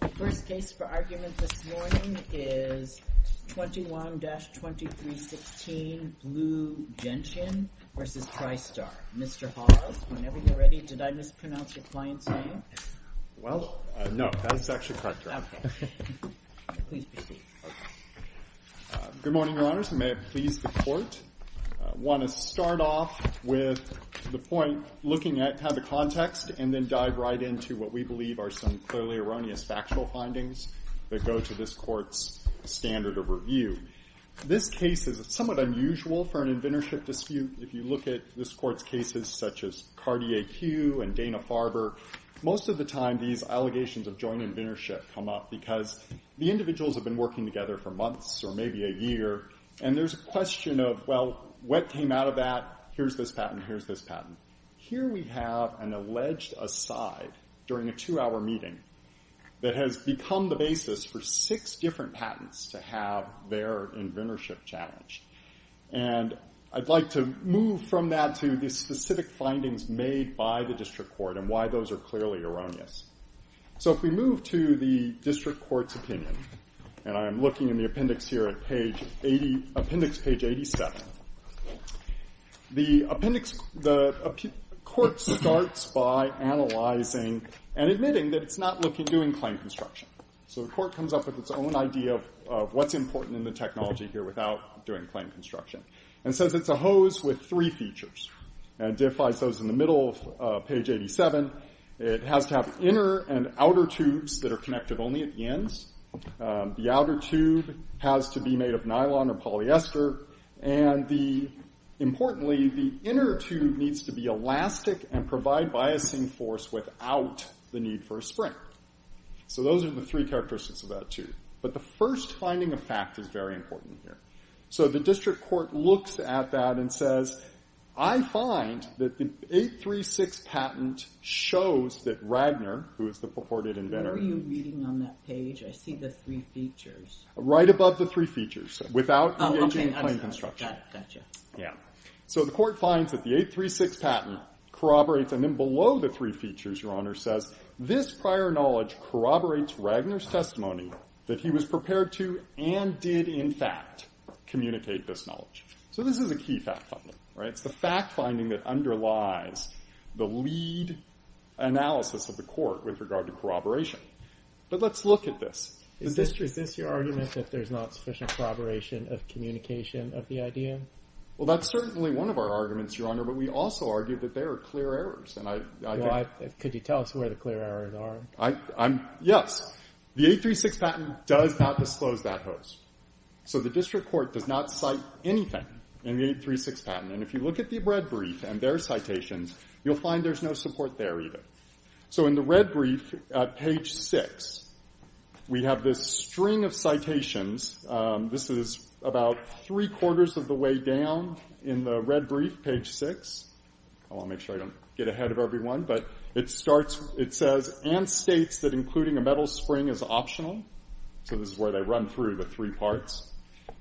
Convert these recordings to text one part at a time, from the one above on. The first case for argument this morning is 21-2316 Blue Gentian v. Tristar. Mr. Hawes, whenever you're ready. Did I mispronounce your client's name? Well, no. That is actually correct, Your Honor. Okay. Please proceed. Good morning, Your Honors. May it please the Court. I want to start off with the point looking at how the context and then dive right into what we believe are some clearly erroneous factual findings that go to this Court's standard of review. This case is somewhat unusual for an inventorship dispute. If you look at this Court's cases such as Cartier-Hugh and Dana-Farber, most of the time these allegations of joint inventorship come up because the individuals have been working together for months or maybe a year and there's a question of, well, what came out of that? Here's this patent. Here's this patent. Here we have an alleged aside during a two-hour meeting that has become the basis for six different patents to have their inventorship challenged. I'd like to move from that to the specific findings made by the District Court and why those are clearly erroneous. If we move to the District Court's opinion, and I'm looking in the appendix here at appendix page 87, the appendix, the Court starts by analyzing and admitting that it's not looking, doing claim construction. So the Court comes up with its own idea of what's important in the technology here without doing claim construction and says it's a hose with three features and defies those in the middle of page 87. It has to have inner and outer tubes that are connected only at the ends. The outer tube has to be made of nylon or polyester and, importantly, the inner tube needs to be elastic and provide biasing force without the need for a spring. So those are the three characteristics of that tube. But the first finding of fact is very important here. So the District Court looks at that and says, I find that the 836 patent shows that Ragnar, who is the purported inventor... What are you reading on that page? I see the three features. Right above the three features. Without engaging claim construction. Gotcha. So the Court finds that the 836 patent corroborates and then below the three features, Your Honor, says, this prior knowledge corroborates Ragnar's testimony that he was prepared to and did, in fact, communicate this knowledge. So this is a key fact finding. It's the fact finding that underlies the lead analysis of the Court with regard to corroboration. But let's look at this. Is this your argument that there's not sufficient corroboration of communication of the idea? Well, that's certainly one of our arguments, Your Honor, but we also argue that there are clear errors. Could you tell us where the clear errors are? Yes. The 836 patent does not disclose that host. So the District Court does not cite anything in the 836 patent. And if you look at the red brief and their citations, you'll find there's no support there either. So in the red brief, page 6, we have this string of citations. This is about three-quarters of the way down in the red brief, page 6. I want to make sure I don't get ahead of everyone, but it says and states that including a metal spring is optional. So this is where they run through the three parts.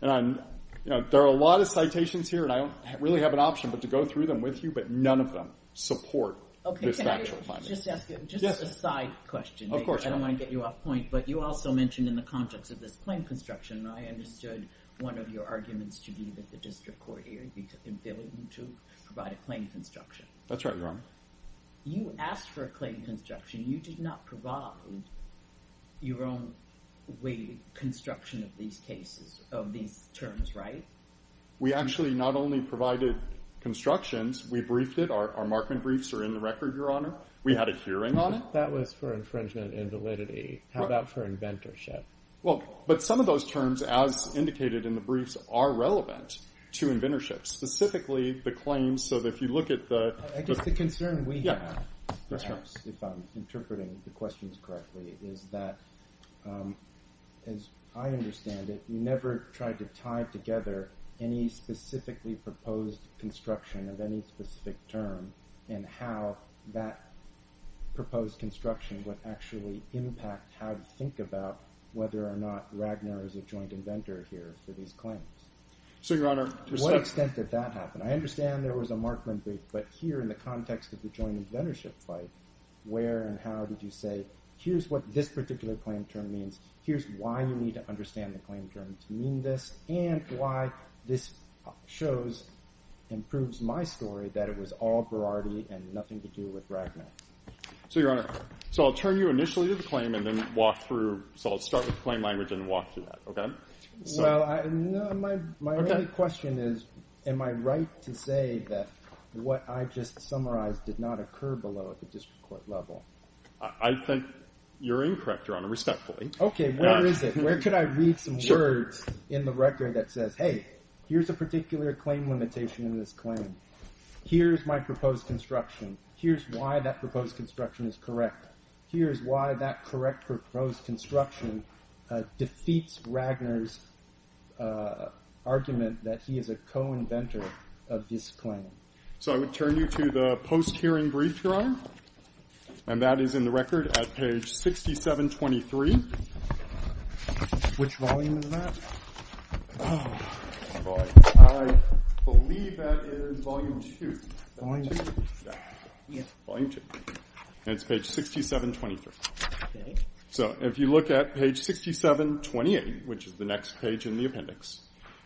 And there are a lot of citations here, and I don't really have an option but to go through them with you, but none of them support this factual finding. Just a side question. I don't want to get you off point, but you also mentioned in the context of this claim construction, I understood one of your arguments to be that the District Court should be able to provide a claim construction. That's right, Your Honor. You asked for a claim construction. You did not provide your own way of construction of these cases, of these terms, right? We actually not only provided constructions. We briefed it. Our Markman briefs are in the record, Your Honor. We had a hearing on it. That was for infringement and validity. How about for inventorship? Well, but some of those terms, as indicated in the briefs, are relevant to inventorship, specifically the claims. So if you look at the – I guess the concern we have, perhaps, if I'm interpreting the questions correctly, is that, as I understand it, you never tried to tie together any specifically proposed construction of any specific term and how that proposed construction would actually impact how you think about whether or not Ragnar is a joint inventor here for these claims. So, Your Honor, to what extent did that happen? I understand there was a Markman brief, but here in the context of the joint inventorship fight, where and how did you say, here's what this particular claim term means, here's why you need to understand the claim terms mean this, and why this shows and proves my story that it was all variety and nothing to do with Ragnar. So, Your Honor, so I'll turn you initially to the claim and then walk through – so I'll start with the claim language and walk through that, okay? Well, my only question is, am I right to say that what I just summarized did not occur below at the district court level? I think you're incorrect, Your Honor, respectfully. Okay, where is it? In the record that says, hey, here's a particular claim limitation in this claim. Here's my proposed construction. Here's why that proposed construction is correct. Here's why that correct proposed construction defeats Ragnar's argument that he is a co-inventor of this claim. So I would turn you to the post-hearing brief, Your Honor, and that is in the record at page 6723. Which volume is that? I believe that is volume 2. Volume 2? Yeah. Volume 2. And it's page 6723. Okay. So if you look at page 6728, which is the next page in the appendix,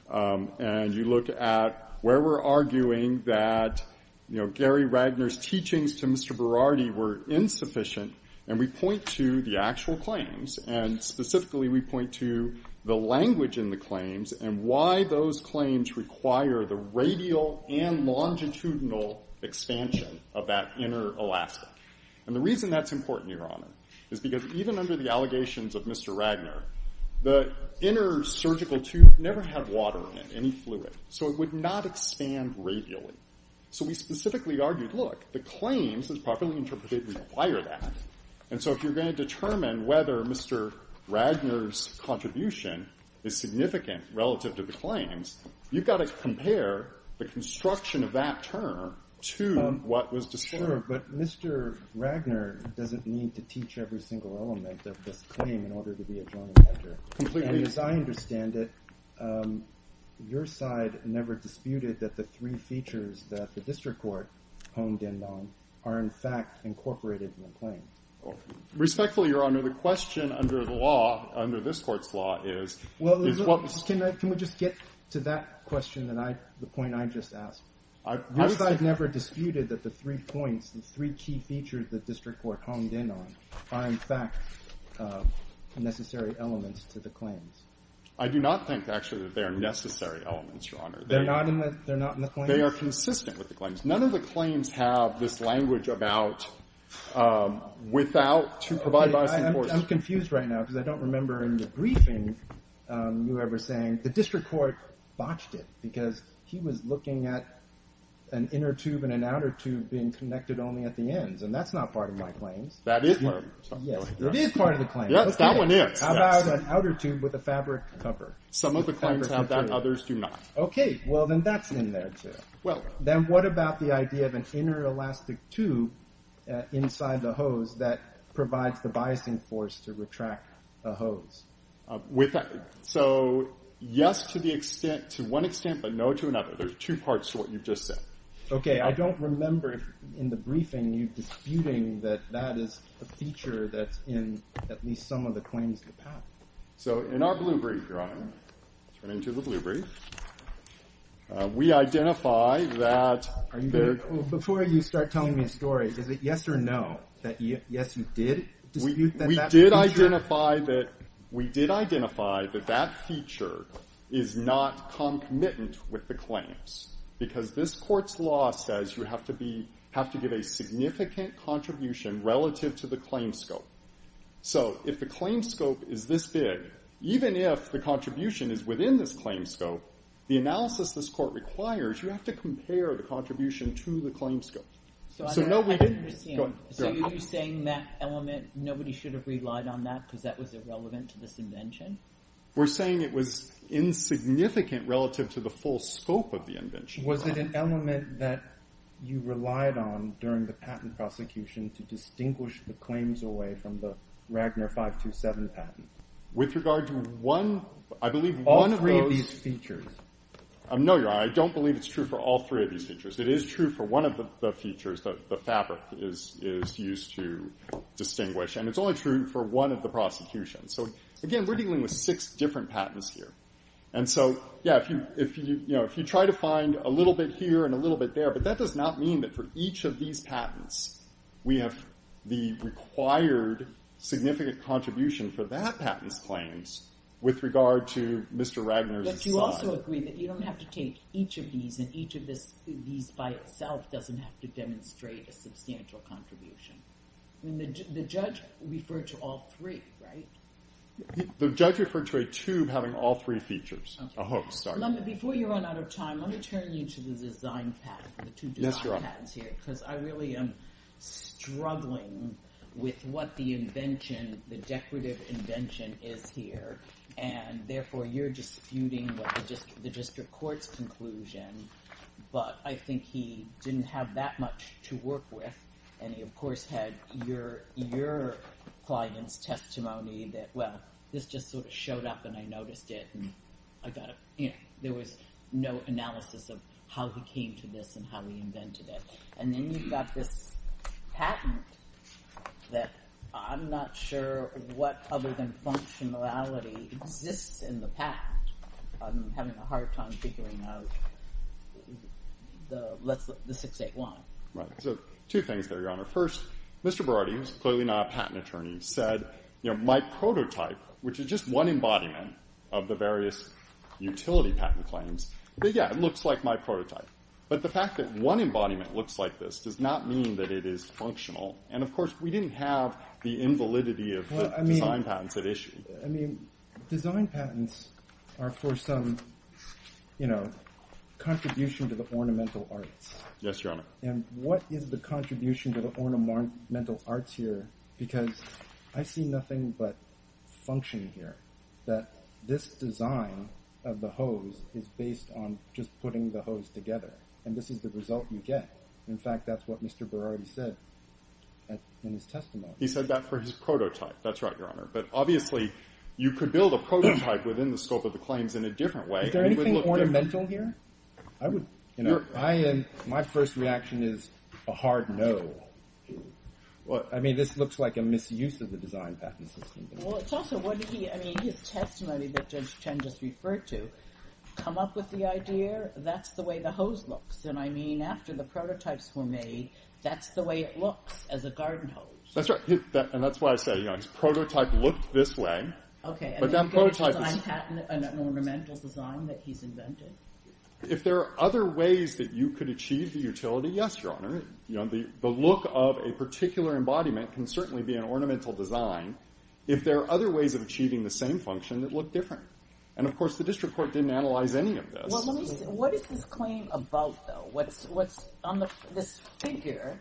and you look at where we're arguing that, you know, Gary Ragnar's teachings to Mr. Berardi were insufficient, and we point to the actual claims, and specifically we point to the language in the claims and why those claims require the radial and longitudinal expansion of that inner elastic. And the reason that's important, Your Honor, is because even under the allegations of Mr. Ragnar, the inner surgical tube never had water in it, any fluid. So it would not expand radially. So we specifically argued, look, the claims, as properly interpreted, require that. And so if you're going to determine whether Mr. Ragnar's contribution is significant relative to the claims, you've got to compare the construction of that term to what was discerned. Sure, but Mr. Ragnar doesn't need to teach every single element of this claim in order to be a drawing measure. Completely. And as I understand it, your side never disputed that the three features that the district court honed in on are in fact incorporated in the claim. Respectfully, Your Honor, the question under the law, under this Court's law, is... Well, can we just get to that question, the point I just asked? Your side never disputed that the three points, the three key features the district court honed in on are in fact necessary elements to the claims. I do not think, actually, that they are necessary elements, Your Honor. They're not in the claims? No, they are consistent with the claims. None of the claims have this language about without to provide bias enforcement. I'm confused right now because I don't remember in the briefing whoever saying the district court botched it because he was looking at an inner tube and an outer tube being connected only at the ends, and that's not part of my claims. That is part of your claims. It is part of the claims. Yes, that one is. How about an outer tube with a fabric cover? Some of the claims have that, others do not. Okay, well, then that's in there, too. Then what about the idea of an inner elastic tube inside the hose that provides the biasing force to retract the hose? So, yes to the extent, to one extent, but no to another. There's two parts to what you've just said. Okay, I don't remember in the briefing you disputing that that is a feature that's in at least some of the claims in the patent. So, in our blue brief, Your Honor, turning to the blue brief, we identify that... Before you start telling me a story, is it yes or no that, yes, you did dispute that feature? We did identify that that feature is not concomitant with the claims because this court's law says you have to give a significant contribution relative to the claim scope. So, if the claim scope is this big, even if the contribution is within this claim scope, the analysis this court requires, you have to compare the contribution to the claim scope. So, are you saying that element, nobody should have relied on that because that was irrelevant to this invention? We're saying it was insignificant relative to the full scope of the invention. Was it an element that you relied on during the patent prosecution to distinguish the claims away from the Ragnar 527 patent? With regard to one... All three of these features. No, Your Honor, I don't believe it's true for all three of these features. It is true for one of the features, the fabric is used to distinguish, and it's only true for one of the prosecutions. So, again, we're dealing with six different patents here. And so, yeah, if you try to find a little bit here and a little bit there, but that does not mean that for each of these patents we have the required significant contribution for that patent's claims with regard to Mr. Ragnar's... But you also agree that you don't have to take each of these and each of these by itself doesn't have to demonstrate a substantial contribution. The judge referred to all three, right? The judge referred to a tube having all three features. Before you run out of time, let me turn you to the design patent, the two design patents here, because I really am struggling with what the invention, the decorative invention is here, and therefore you're disputing the district court's conclusion. But I think he didn't have that much to work with, and he, of course, had your client's testimony that, well, this just sort of showed up and I noticed it, and I got a... You know, there was no analysis of how he came to this and how he invented it. And then you've got this patent that I'm not sure what other than functionality exists in the patent. I'm having a hard time figuring out the 681. Right. So two things there, Your Honor. First, Mr. Berardi, who's clearly not a patent attorney, said, you know, my prototype, which is just one embodiment of the various utility patent claims, but, yeah, it looks like my prototype. But the fact that one embodiment looks like this does not mean that it is functional. And, of course, we didn't have the invalidity of the design patents at issue. I mean, design patents are for some, you know, contribution to the ornamental arts. Yes, Your Honor. And what is the contribution to the ornamental arts here? Because I see nothing but function here, that this design of the hose is based on just putting the hose together, and this is the result you get. In fact, that's what Mr. Berardi said in his testimony. He said that for his prototype. That's right, Your Honor. But, obviously, you could build a prototype within the scope of the claims in a different way. Is there anything ornamental here? I would, you know, I am... My first reaction is a hard no. I mean, this looks like a misuse of the design patent system. Well, it's also what he... I mean, his testimony that Judge Chen just referred to come up with the idea, that's the way the hose looks. And I mean, after the prototypes were made, that's the way it looks as a garden hose. That's right. And that's why I say, you know, his prototype looked this way. Okay. But that prototype is... Is there a design patent, an ornamental design that he's invented? If there are other ways that you could achieve the utility, yes, Your Honor. You know, the look of a particular embodiment can certainly be an ornamental design if there are other ways of achieving the same function that look different. And, of course, the district court didn't analyze any of this. What is this claim about, though? What's on this figure?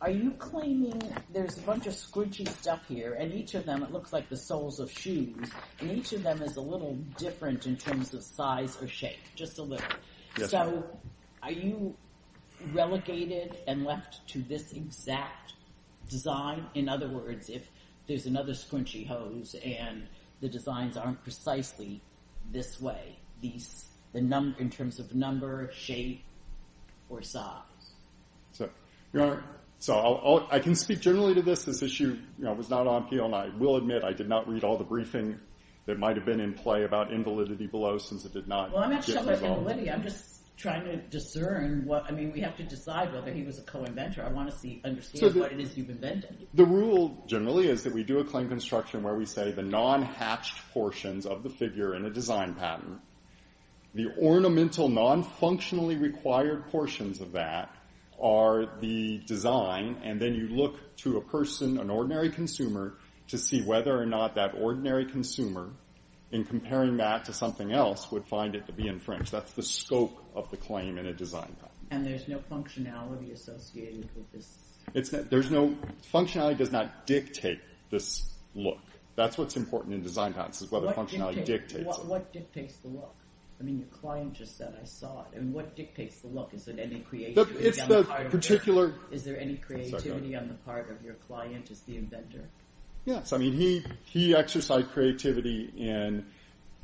Are you claiming there's a bunch of scrunchie stuff here, and each of them, it looks like the soles of shoes, and each of them is a little different in terms of size or shape, just a little. So are you relegated and left to this exact design? In other words, if there's another scrunchie hose and the designs aren't precisely this way, in terms of number, shape, or size. So, Your Honor, I can speak generally to this. This issue was not on appeal, and I will admit I did not read all the briefing that might have been in play about invalidity below since it did not get resolved. Well, I'm not showing invalidity. I'm just trying to discern what... I mean, we have to decide whether he was a co-inventor. I want to understand what it is you've invented. The rule, generally, is that we do a claim construction where we say the non-hatched portions of the figure in a design pattern, the ornamental, non-functionally required portions of that are the design, and then you look to a person, an ordinary consumer, to see whether or not that ordinary consumer, in comparing that to something else, would find it to be infringed. That's the scope of the claim in a design pattern. And there's no functionality associated with this? There's no... Functionality does not dictate this look. That's what's important in design patterns, is whether functionality dictates it. What dictates the look? I mean, the client just said, I saw it. And what dictates the look? Is it any creativity on the part of the... It's the particular... Is there any creativity on the part of your client as the inventor? Yes. I mean, he exercised creativity in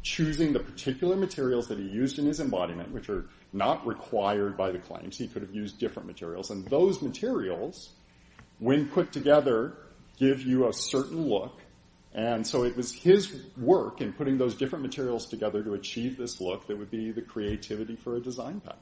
choosing the particular materials that he used in his embodiment, which are not required by the claims. He could have used different materials. And those materials, when put together, give you a certain look. And so it was his work in putting those different materials together to achieve this look that would be the creativity for a design pattern.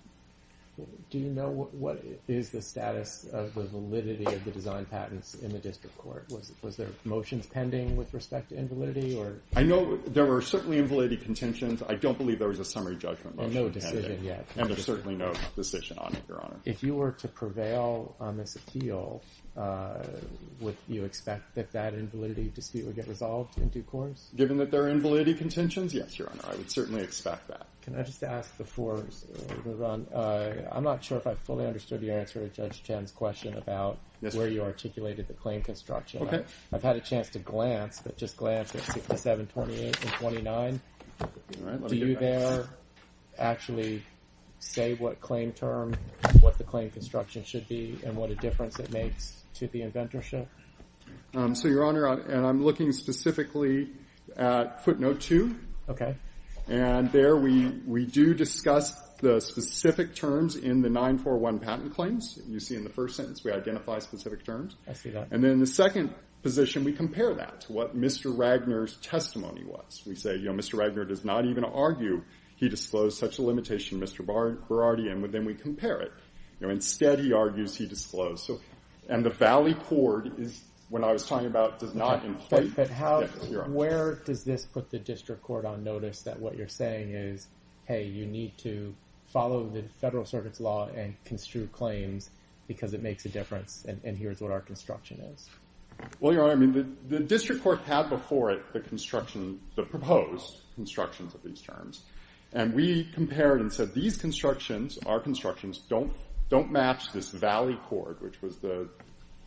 Do you know what is the status of the validity of the design patents in the district court? Was there motions pending with respect to invalidity? I know there were certainly invalidity contentions. I don't believe there was a summary judgment motion. And no decision yet. And there's certainly no decision on it, Your Honor. If you were to prevail on this appeal, would you expect that that invalidity dispute would get resolved in due course? Given that there are invalidity contentions, yes, Your Honor. I would certainly expect that. Can I just ask before we move on? I'm not sure if I fully understood your answer to Judge Chen's question about where you articulated the claim construction. I've had a chance to glance, but just glance at 67, 28, and 29. Do you there actually say what claim term, what the claim construction should be, and what a difference it makes to the inventorship? So, Your Honor, and I'm looking specifically at footnote 2. Okay. And there we do discuss the specific terms in the 941 patent claims. You see in the first sentence we identify specific terms. I see that. And then in the second position, we compare that to what Mr. Ragner's testimony was. We say, you know, Mr. Ragner does not even argue he disclosed such a limitation, Mr. Berardi, and then we compare it. You know, instead, he argues he disclosed. So, and the valley court is, when I was talking about does not... But how, where does this put the district court on notice that what you're saying is, hey, you need to follow the Federal Circuit's law and construe claims because it makes a difference and here's what our construction is? Well, Your Honor, I mean, the district court had before it the construction, the proposed constructions of these terms. And we compared and said these constructions, our constructions don't match this valley court, which was the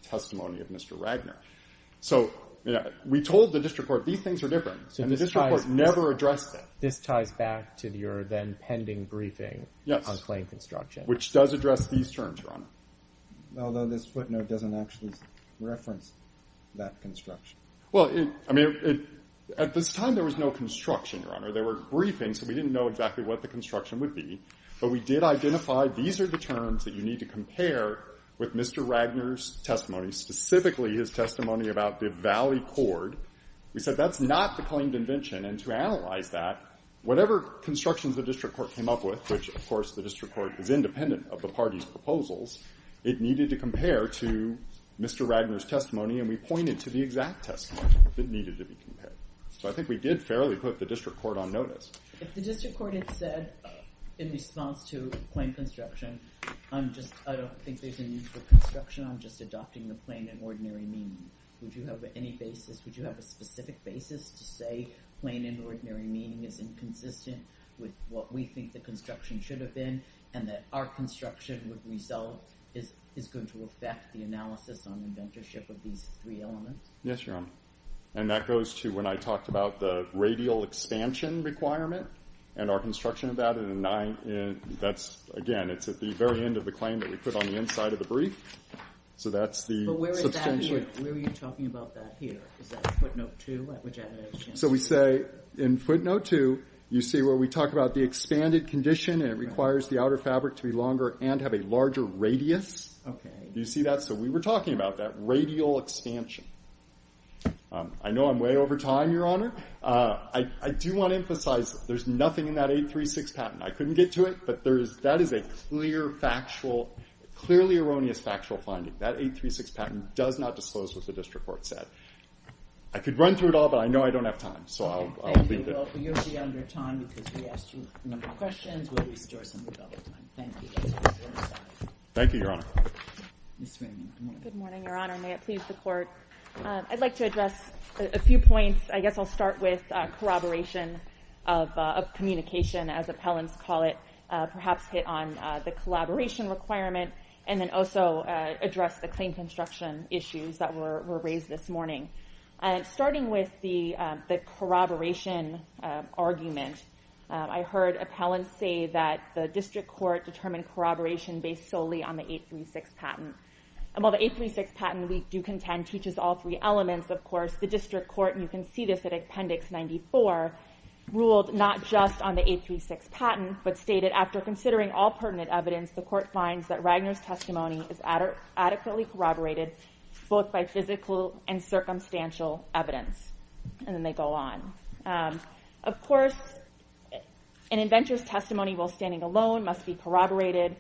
testimony of Mr. Ragner. So, you know, we told the district court these things are different. And the district court never addressed it. This ties back to your then pending briefing on claim construction. Yes, which does address these terms, Your Honor. Although this footnote doesn't actually reference that construction. Well, I mean, at this time, there was no construction, Your Honor. There were briefings, so we didn't know exactly what the construction would be. But we did identify these are the terms that you need to compare with Mr. Ragner's testimony, specifically his testimony about the valley court. We said that's not the claimed invention. And to analyze that, whatever constructions the district court came up with, which, of course, the district court is independent of the party's proposals, it needed to compare to Mr. Ragner's testimony and we pointed to the exact testimony that needed to be compared. So I think we did fairly put the district court on notice. If the district court had said, in response to claim construction, I'm just, I don't think there's a need for construction. I'm just adopting the plain and ordinary meaning. Would you have any basis, would you have a specific basis to say plain and ordinary meaning is inconsistent with what we think the construction should have been and that our construction would result is going to affect the analysis on inventorship of these three elements? Yes, Your Honor. And that goes to when I talked about the radial expansion requirement and our construction of that, that's, again, it's at the very end of the claim that we put on the inside of the brief. So that's the substantial... But where is that here? Where are you talking about that here? Is that footnote two? So we say in footnote two, you see where we talk about the expanded condition and it requires the outer fabric to be longer and have a larger radius. Do you see that? So we were talking about that radial expansion. I know I'm way over time, Your Honor, I do want to emphasize there's nothing in that 836 patent. I couldn't get to it, but that is a clearly erroneous factual finding. That 836 patent does not disclose what the district court said. I could run through it all, but I know I don't have time, so I'll leave it. Thank you, Your Honor. You'll be under time because we asked you a number of questions. We'll restore some of your time. Thank you. Thank you, Your Honor. Good morning, Your Honor. May it please the Court. I'd like to address a few points. I guess I'll start with corroboration of communication, as appellants call it, perhaps hit on the collaboration requirement and then also address the claim construction issues that were raised this morning. Starting with the corroboration argument, I heard appellants say that the district court determined corroboration based solely on the 836 patent. While the 836 patent, we do contend, teaches all three elements, of course. The district court, and you can see this in Appendix 94, ruled not just on the 836 patent, but stated, after considering all pertinent evidence, the court finds that Ragner's testimony is adequately corroborated both by physical and circumstantial evidence. And then they go on. Of course, an inventor's testimony while standing alone must be corroborated.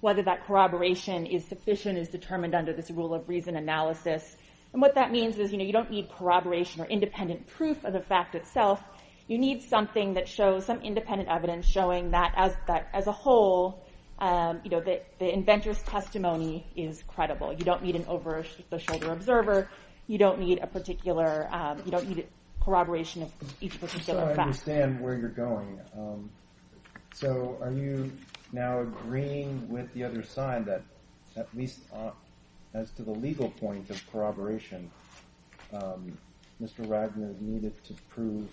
Whether that corroboration is sufficient is determined under this rule of reason analysis. And what that means is, you know, you don't need corroboration or independent proof of the fact itself. You need something that shows some independent evidence showing that as a whole, you know, the inventor's testimony is credible. You don't need an over-the-shoulder observer. You don't need a particular, you don't need corroboration of each particular fact. So I understand where you're going. So are you now agreeing with the other side that at least as to the legal point of corroboration, Mr. Ragner needed to prove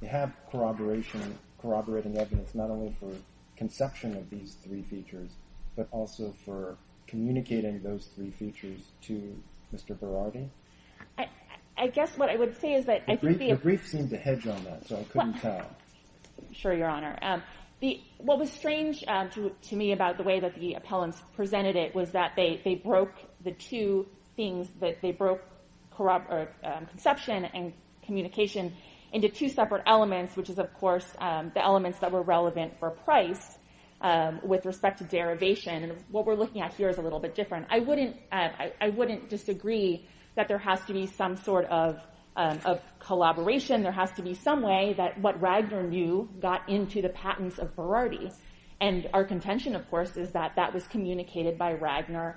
he had corroborating evidence not only for conception of these three features, but also for communicating those three features to Mr. Berardi? I guess what I would say is that I think the... The brief seemed to hedge on that, so I couldn't tell. I'm sure, Your Honor. What was strange to me about the way that the appellants presented it was that they broke the two things. They broke conception and communication into two separate elements, which is, of course, the elements that were relevant for price with respect to derivation. What we're looking at here is a little bit different. I wouldn't disagree that there has to be some sort of collaboration. There has to be some way that what Ragner knew got into the patents of Berardi. And our contention, of course, is that that was communicated by Ragner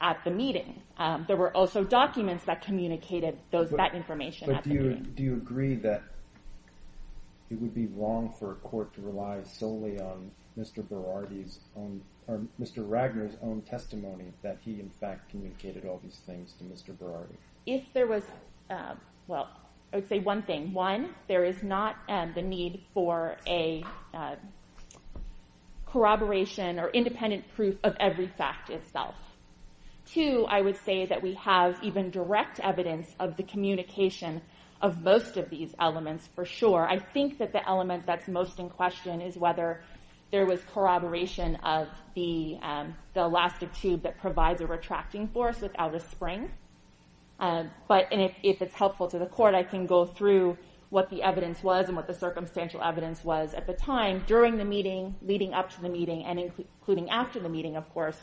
at the meeting. There were also documents that communicated that information at the meeting. But do you agree that it would be wrong for a court to rely solely on Mr. Berardi's own... or Mr. Ragner's own testimony that he, in fact, communicated all these things to Mr. Berardi? If there was... Well, I would say one thing. One, there is not the need for a... corroboration or independent proof of every fact itself. Two, I would say that we have even direct evidence of the communication of most of these elements for sure. I think that the element that's most in question is whether there was corroboration of the elastic tube that provides a retracting force without a spring. But if it's helpful to the court, I can go through what the evidence was and what the circumstantial evidence was at the time. During the meeting, leading up to the meeting, and including after the meeting, of course,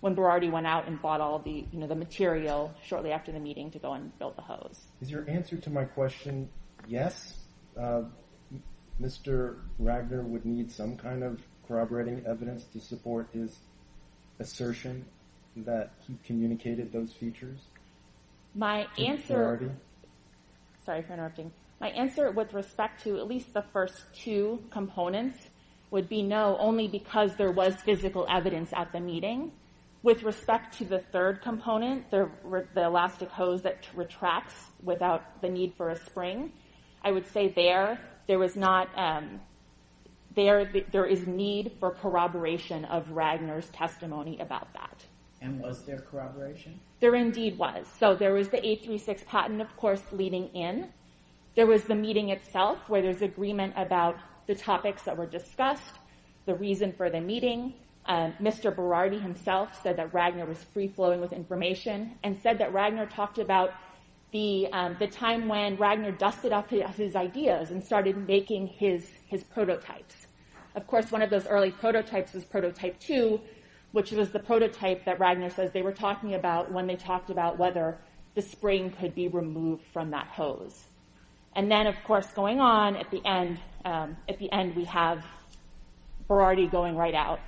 when Berardi went out and bought all the material shortly after the meeting to go and build the hose. Is your answer to my question yes? Mr. Ragner would need some kind of corroborating evidence to support his assertion that he communicated those features to Mr. Berardi? My answer... Sorry for interrupting. My answer with respect to at least the first two components would be no, only because there was physical evidence at the meeting. With respect to the third component, the elastic hose that retracts without the need for a spring, I would say there, there was not... There is need for corroboration of Ragner's testimony about that. And was there corroboration? There indeed was. So there was the 836 patent, of course, leading in. There was the meeting itself, where there's agreement about the topics that were discussed, the reason for the meeting. Mr. Berardi himself said that Ragner was free-flowing with information and said that Ragner talked about the time when Ragner dusted off his ideas and started making his prototypes. Of course, one of those early prototypes was prototype 2, which was the prototype that Ragner says they were talking about when they talked about whether the spring could be removed from that hose. And then, of course, going on at the end, at the end we have Berardi going right out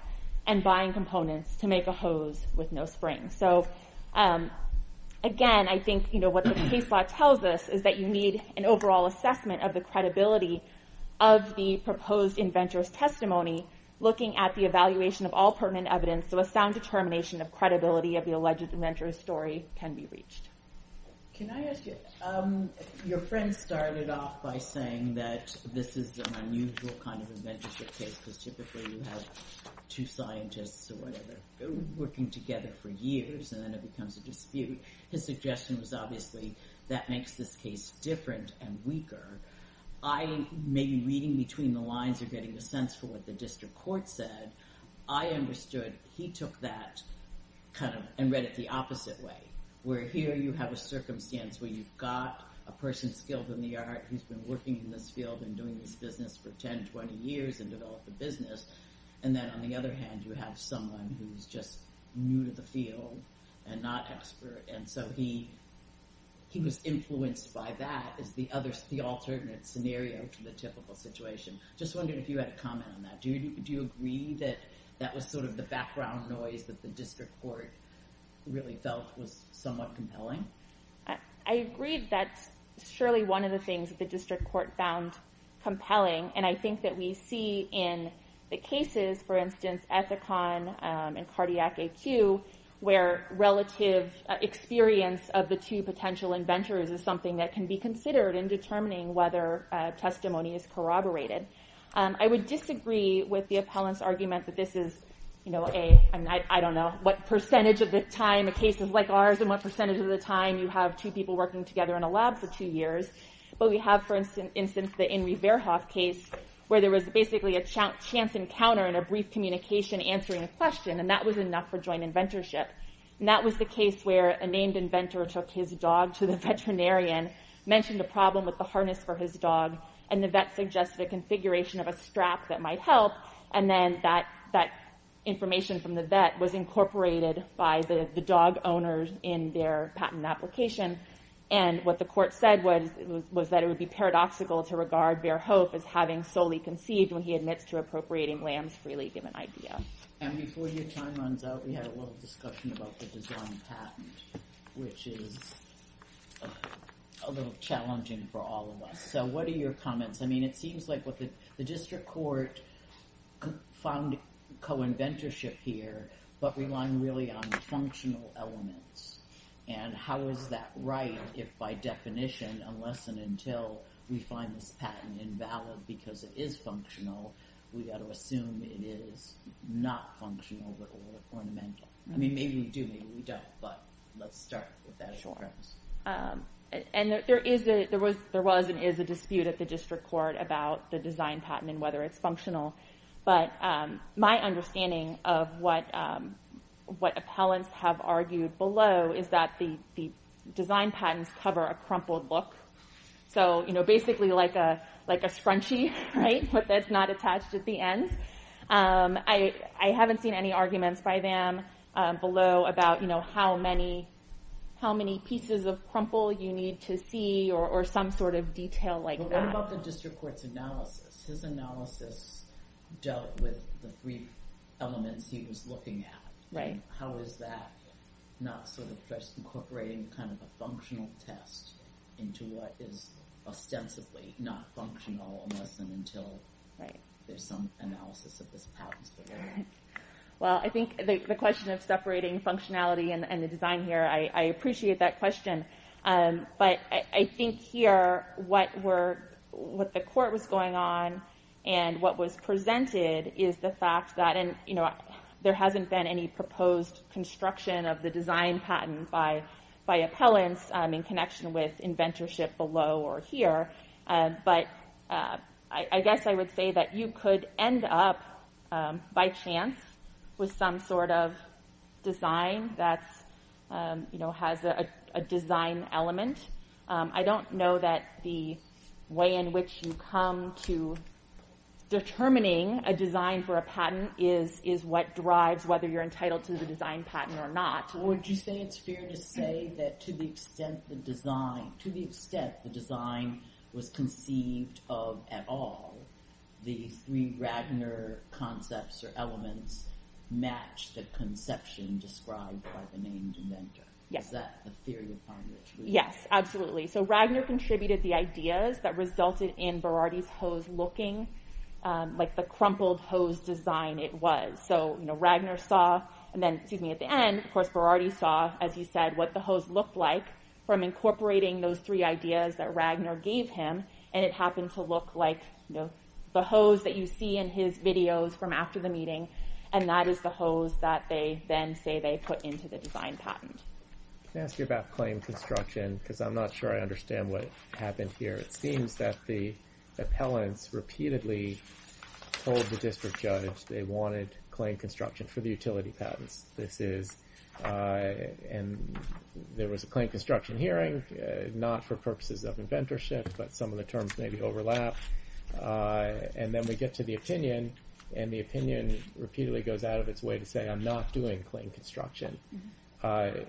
and buying components to make a hose with no spring. So, again, I think what the case law tells us is that you need an overall assessment of the credibility of the proposed inventor's testimony looking at the evaluation of all pertinent evidence so a sound determination of credibility of the alleged inventor's story can be reached. Can I ask you, your friend started off by saying that this is an unusual kind of inventorship case because typically you have two scientists or whatever working together for years and then it becomes a dispute. His suggestion was obviously that makes this case different and weaker. I, maybe reading between the lines or getting a sense for what the district court said, I understood he took that kind of and read it the opposite way where here you have a circumstance where you've got a person skilled in the art who's been working in this field and doing this business for 10, 20 years and developed the business and then on the other hand you have someone who's just new to the field and not expert and so he was influenced by that as the alternate scenario to the typical situation. Just wondering if you had a comment on that. Do you agree that that was sort of the background noise that the district court really felt was somewhat compelling? I agree that's surely one of the things that the district court found compelling and I think that we see in the cases, for instance, Ethicon and Cardiac AQ where relative experience of the two potential inventors is something that can be considered in determining whether testimony is corroborated. I would disagree with the appellant's argument that this is, you know, I don't know what percentage of the time a case is like ours and what percentage of the time you have two people working together in a lab for two years but we have, for instance, the Inri Verhof case where there was basically a chance encounter and a brief communication answering a question and that was enough for joint inventorship. And that was the case where a named inventor took his dog to the veterinarian, mentioned a problem with the harness for his dog and the vet suggested a configuration of a strap that might help and then that information from the vet was incorporated by the dog owners in their patent application and what the court said was that it would be paradoxical to regard Verhof as having solely conceived when he admits to appropriating Lam's freely given idea. And before your time runs out, we had a little discussion about the design patent which is a little challenging for all of us. So what are your comments? I mean, it seems like what the district court found co-inventorship here but relying really on functional elements and how is that right if by definition unless and until we find this patent invalid because it is functional, we've got to assume it is not functional or ornamental. I mean, maybe we do, maybe we don't, but let's start with that. Sure. And there was and is a dispute at the district court about the design patent and whether it's functional. But my understanding of what appellants have argued below is that the design patents cover a crumpled look. So basically like a scrunchie, right, but that's not attached at the end. I haven't seen any arguments by them below about how many pieces of crumple you need to see or some sort of detail like that. What about the district court's analysis? His analysis dealt with the brief elements he was looking at. Right. How is that not sort of just incorporating kind of a functional test into what is ostensibly not functional unless and until there's some analysis of this patent? Well, I think the question of separating functionality and the design here, I appreciate that question. But I think here what the court was going on and what was presented is the fact that there hasn't been any proposed construction of the design patent by appellants in connection with inventorship below or here. But I guess I would say that you could end up by chance with some sort of design that has a design element. I don't know that the way in which you come to determining a design for a patent is what drives whether you're entitled to the design patent or not. Would you say it's fair to say that to the extent the design was conceived of at all, the three Ragnar concepts or elements match the conception described by the main inventor? Yes, absolutely. So Ragnar contributed the ideas that resulted in Berardi's hose looking like the crumpled hose design it was. So Ragnar saw and then, excuse me, at the end, of course, Berardi saw, as you said, what the hose looked like from incorporating those three ideas that Ragnar gave him. And it happened to look like the hose that you see in his videos from after the meeting. And that is the hose that they then say they put into the design patent. Can I ask you about claim construction? Because I'm not sure I understand what happened here. It seems that the appellants repeatedly told the district judge they wanted claim construction for the utility patents. There was a claim construction hearing, not for purposes of inventorship, but some of the terms maybe overlap. And then we get to the opinion, and the opinion repeatedly goes out of its way to say I'm not doing claim construction.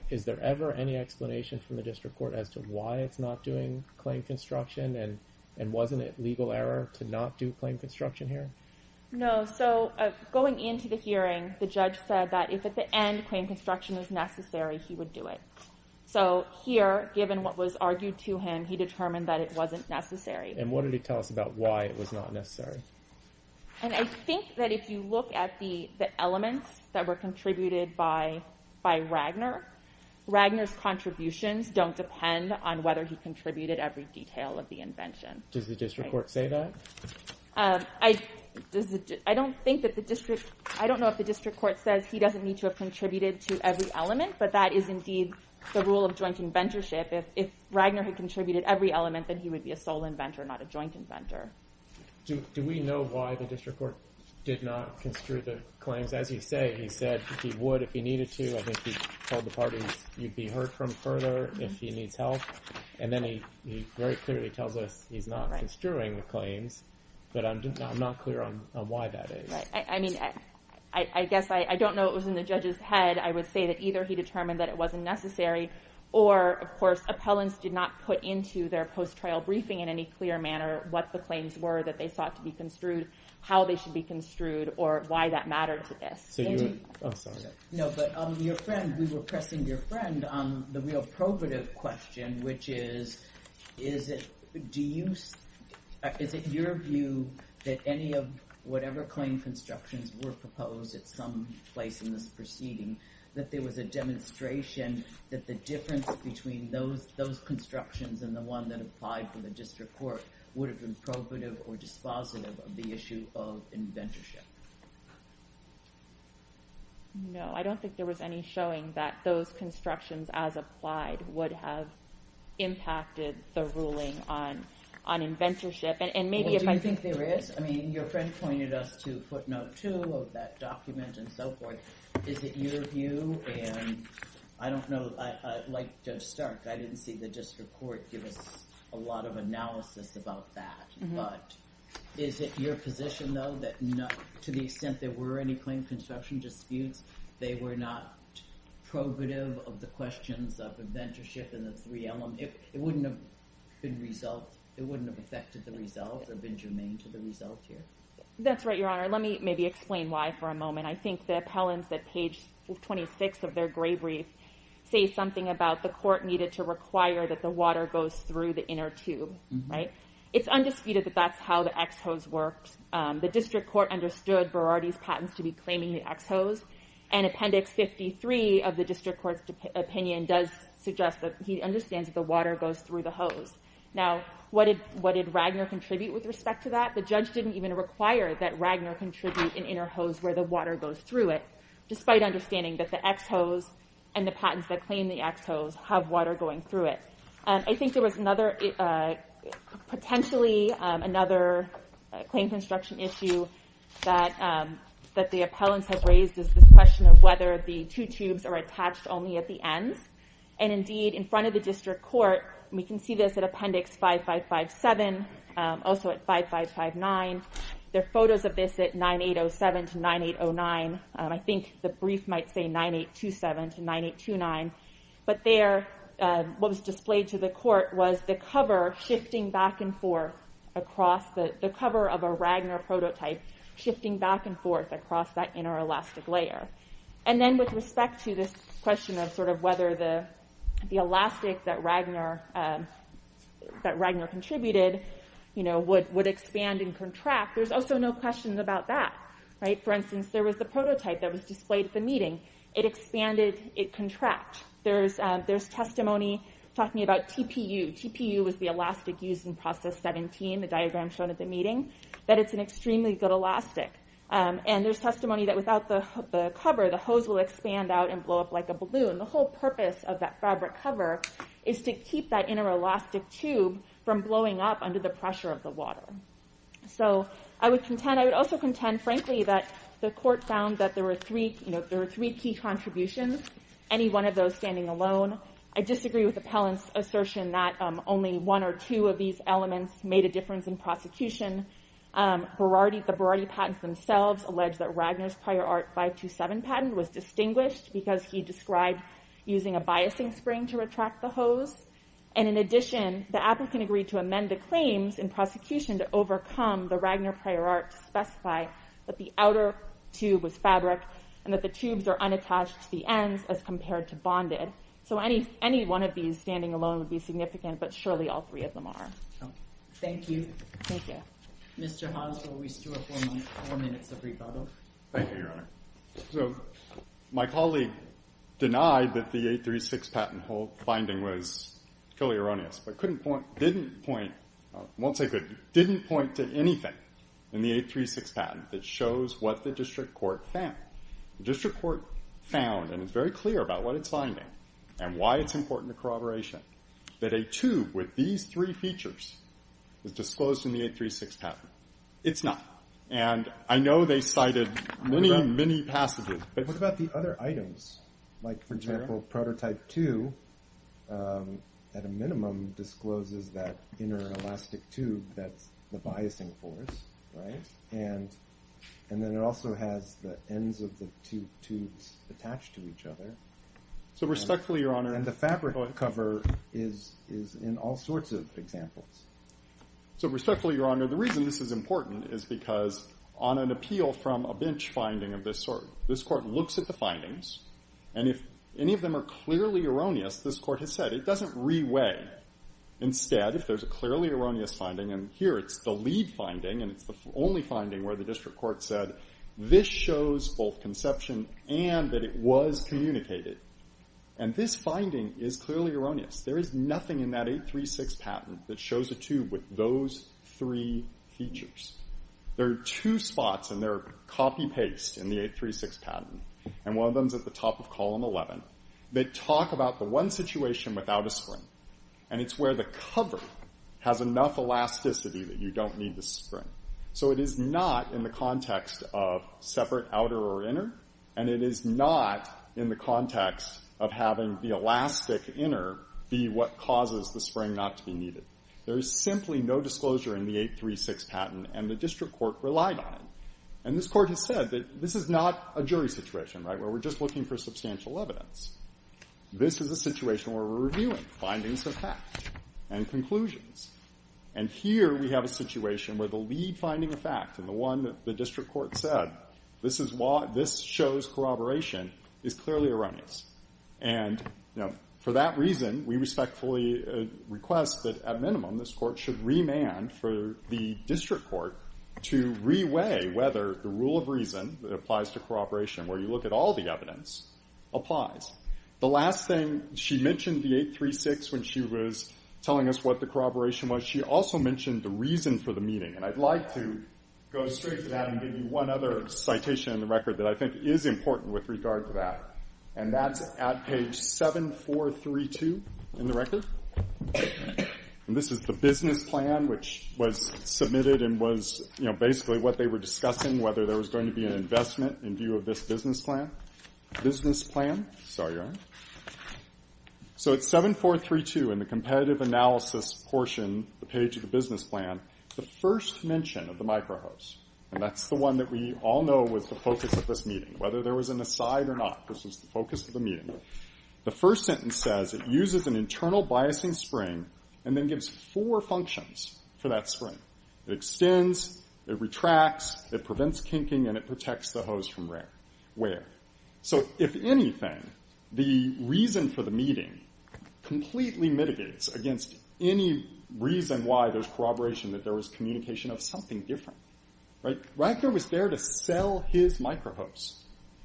Is there ever any explanation from the district court as to why it's not doing claim construction? And wasn't it legal error to not do claim construction here? No, so going into the hearing, the judge said that if at the end claim construction was necessary, he would do it. So here, given what was argued to him, he determined that it wasn't necessary. And what did he tell us about why it was not necessary? And I think that if you look at the elements that were contributed by Ragner, Ragner's contributions don't depend on whether he contributed every detail of the invention. Does the district court say that? I don't know if the district court says he doesn't need to have contributed to every element, but that is indeed the rule of joint inventorship. If Ragner had contributed every element, then he would be a sole inventor, not a joint inventor. Do we know why the district court did not construe the claims? As you say, he said he would if he needed to. I think he told the parties you'd be hurt from further if he needs help. And then he very clearly tells us he's not construing the claims, but I'm not clear on why that is. I mean, I guess I don't know what was in the judge's head. I would say that either he determined that it wasn't necessary or, of course, appellants did not put into their post-trial briefing in any clear manner what the claims were that they sought to be construed, how they should be construed, or why that mattered to this. No, but your friend, we were pressing your friend on the real probative question, which is, is it your view that any of whatever claim constructions were proposed at some place in this proceeding, that there was a demonstration that the difference between those constructions and the one that applied for the district court would have been probative or dispositive of the issue of inventorship? No, I don't think there was any showing that those constructions as applied would have impacted the ruling on inventorship. Do you think there is? I mean, your friend pointed us to footnote 2 of that document and so forth. Is it your view, and I don't know, like Judge Stark, I didn't see the district court give us a lot of analysis about that, but is it your position, though, that to the extent there were any claim construction disputes, they were not probative of the questions of inventorship and the three elements? It wouldn't have affected the result or been germane to the result here? That's right, Your Honor. Let me maybe explain why for a moment. I think the appellants at page 26 of their gray brief say something about the court needed to require that the water goes through the inner tube. It's undisputed that that's how the X-hose works. The district court understood Berardi's patents to be claiming the X-hose, and Appendix 53 of the district court's opinion does suggest that he understands that the water goes through the hose. Now, what did Ragner contribute with respect to that? The judge didn't even require that Ragner contribute an inner hose where the water goes through it, despite understanding that the X-hose and the patents that claim the X-hose have water going through it. I think there was potentially another claim construction issue that the appellants have raised is this question of whether the two tubes are attached only at the ends. Indeed, in front of the district court, we can see this at Appendix 5557, also at 5559. There are photos of this at 9807 to 9809. I think the brief might say 9827 to 9829. But there, what was displayed to the court was the cover shifting back and forth across the cover of a Ragner prototype, shifting back and forth across that inner elastic layer. And then with respect to this question of whether the elastic that Ragner contributed would expand and contract, there's also no questions about that. For instance, there was the prototype that was displayed at the meeting. It expanded, it contracted. There's testimony talking about TPU. TPU was the elastic used in Process 17, the diagram shown at the meeting, that it's an extremely good elastic. And there's testimony that without the cover, the hose will expand out and blow up like a balloon. The whole purpose of that fabric cover is to keep that inner elastic tube from blowing up under the pressure of the water. I would also contend, frankly, that the court found that there were three key contributions, any one of those standing alone. I disagree with Appellant's assertion that only one or two of these elements made a difference in prosecution. The Berardi patents themselves allege that Ragner's prior Art 527 patent was distinguished because he described using a biasing spring to retract the hose. And in addition, the applicant agreed to amend the claims in prosecution to overcome the Ragner prior Art to specify that the outer tube was fabric and that the tubes are unattached to the ends as compared to bonded. So any one of these standing alone would be significant, but surely all three of them are. Thank you. Thank you. Mr. Hans, will we still have four minutes of rebuttal? Thank you, Your Honor. My colleague denied that the 836 patent binding was purely erroneous but didn't point to anything in the 836 patent that shows what the district court found. The district court found, and it's very clear about what it's finding and why it's important to corroboration, that a tube with these three features is disclosed in the 836 patent. It's not. And I know they cited many, many passages. What about the other items? Like, for example, prototype 2, at a minimum, discloses that inner elastic tube that's the biasing force, right? And then it also has the ends of the two tubes attached to each other. So respectfully, Your Honor— And the fabric cover is in all sorts of examples. So respectfully, Your Honor, the reason this is important is because on an appeal from a bench finding of this sort, this court looks at the findings, and if any of them are clearly erroneous, this court has said, it doesn't reweigh. Instead, if there's a clearly erroneous finding, and here it's the lead finding and it's the only finding where the district court said, this shows both conception and that it was communicated. And this finding is clearly erroneous. There is nothing in that 836 patent that shows a tube with those three features. There are two spots, and they're copy-paste in the 836 patent, and one of them's at the top of Column 11, that talk about the one situation without a spring. And it's where the cover has enough elasticity that you don't need the spring. So it is not in the context of separate outer or inner, and it is not in the context of having the elastic inner be what causes the spring not to be needed. There is simply no disclosure in the 836 patent, and the district court relied on it. And this court has said that this is not a jury situation, right, where we're just looking for substantial evidence. This is a situation where we're reviewing findings of fact and conclusions. And here we have a situation where the lead finding of fact, and the one that the district court said, this shows corroboration, is clearly erroneous. And for that reason, we respectfully request that, at minimum, this court should remand for the district court to reweigh whether the rule of reason that applies to corroboration, where you look at all the evidence, applies. The last thing, she mentioned the 836 when she was telling us what the corroboration was. She also mentioned the reason for the meeting. And I'd like to go straight to that and give you one other citation in the record that I think is important with regard to that. And that's at page 7432 in the record. And this is the business plan, which was submitted and was, you know, basically what they were discussing, whether there was going to be an investment in view of this business plan. Business plan. Sorry, your Honor. So it's 7432 in the competitive analysis portion, the page of the business plan. The first mention of the microhose. And that's the one that we all know was the focus of this meeting. Whether there was an aside or not, this was the focus of the meeting. The first sentence says, it uses an internal biasing spring and then gives four functions for that spring. It extends, it retracts, it prevents kinking, and it protects the hose from rain. Where? So if anything, the reason for the meeting completely mitigates against any reason why there's corroboration that there was communication of something different. Right? Ragnar was there to sell his microhose.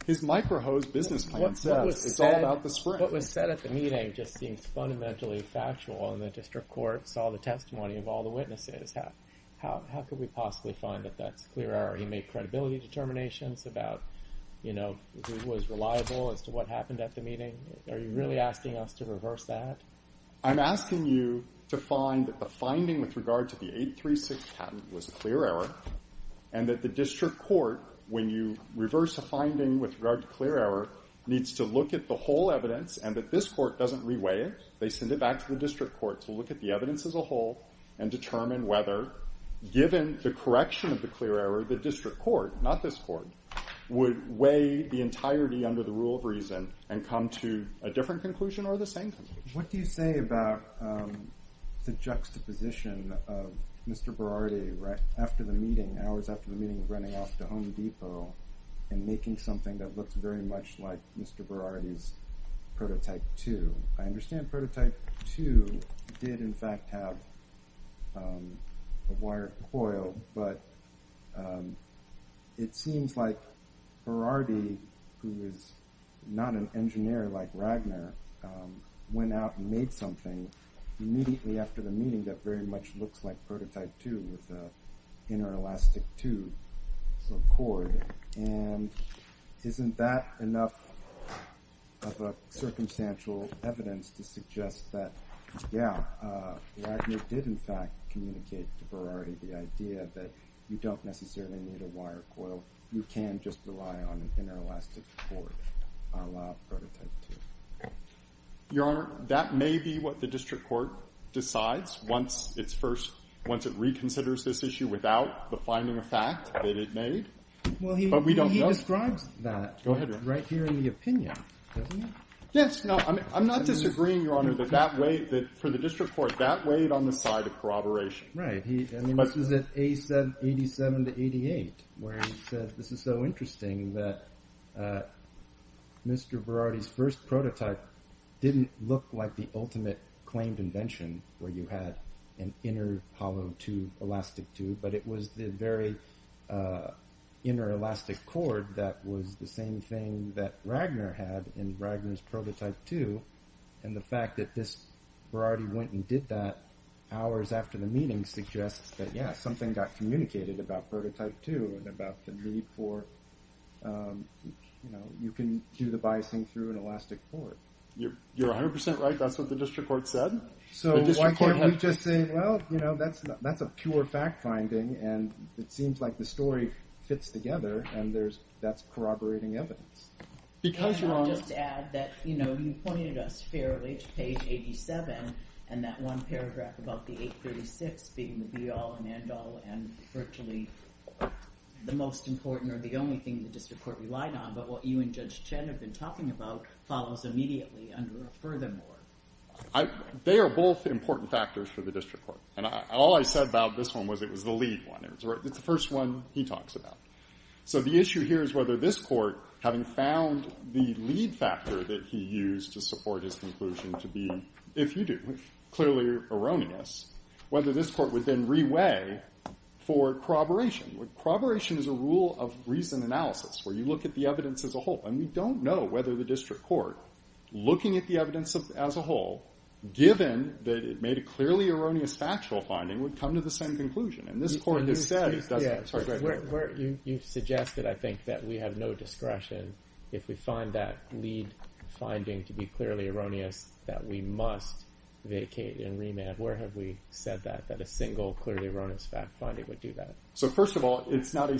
His microhose business plan says it's all about the spring. What was said at the meeting just seems fundamentally factual and the district court saw the testimony of all the witnesses. How could we possibly find that that's clear? Are you making credibility determinations about, you know, who was reliable as to what happened at the meeting? Are you really asking us to reverse that? I'm asking you to find a finding with regard to the 836 patent was a clear error and that the district court, when you reverse a finding with regard to clear error, needs to look at the whole evidence and that this court doesn't reweigh it. They send it back to the district court to look at the evidence as a whole and determine whether, given the correction of the clear error, the district court, not this court, would weigh the entirety under the rule of reason and come to a different conclusion or the same conclusion. What do you say about the juxtaposition of Mr. Berardi after the meeting, hours after the meeting, running off to Home Depot and making something that looked very much like Mr. Berardi's prototype 2? I understand prototype 2 did, in fact, have a wire coil, but it seems like Berardi, who is not an engineer like Ragnar, went out and made something immediately after the meeting that very much looks like prototype 2 with an inter-elastic tube, some cord, and isn't that enough of a circumstantial evidence to suggest that, yeah, Ragnar did, in fact, communicate to Berardi the idea that you don't necessarily need a wire coil. You can just rely on an inter-elastic cord, a la prototype 2. Your Honor, that may be what the district court decides once it reconsiders this issue without the finding of fact that it made, but we don't know. Well, he describes that right here in the opinion, doesn't he? Yes. I'm not disagreeing, Your Honor, that for the district court, that weighed on the side of corroboration. Right. This is at 87 to 88 where he said this is so interesting that Mr. Berardi's first prototype didn't look like the ultimate claimed invention where you had an inner hollow tube, elastic tube, but it was the very inter-elastic cord that was the same thing that Ragnar had in Ragnar's prototype 2, and the fact that this Berardi went and did that hours after the meeting suggests that, yeah, something got communicated about prototype 2 and about the need for, you know, you can do the biasing through an elastic cord. You're 100% right. That's what the district court said? So why can't we just say, well, you know, that's a pure fact finding, and it seems like the story fits together, and that's corroborating evidence. And I'll just add that, you know, you pointed us fairly to page 87, and that one paragraph about the 836 being the be-all and end-all and virtually the most important or the only thing the district court relied on, but what you and Judge Chen have been talking about follows immediately under the furthermore. They are both important factors for the district court, and all I said about this one was it was the lead one. It's the first one he talks about. So the issue here is whether this court, having found the lead factor that he used to support his conclusion to be, if you do, clearly erroneous, whether this court would then re-weigh for corroboration. Corroboration is a rule of reason analysis where you look at the evidence as a whole, and we don't know whether the district court, looking at the evidence as a whole, given that it made a clearly erroneous factual finding, would come to the same conclusion. And this court has said it doesn't. You suggested, I think, that we have no discretion if we find that lead finding to be clearly erroneous that we must vacate and remand. Where have we said that, that a single clearly erroneous fact finding would do that? So first of all, it's not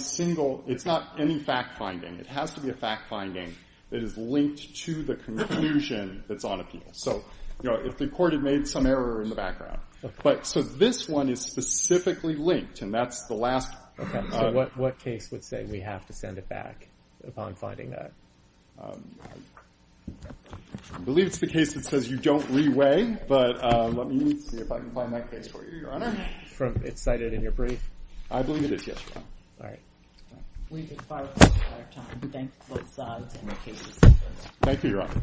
any fact finding. It has to be a fact finding that is linked to the conclusion that's on appeal. So if the court had made some error in the background. So this one is specifically linked, and that's the last. So what case would say we have to send it back upon finding that? I believe it's the case that says you don't re-weigh, but let me see if I can find that case for you, Your Honor. It's cited in your brief? I believe it is, yes. All right. We've expired our time. Thank you, Your Honor.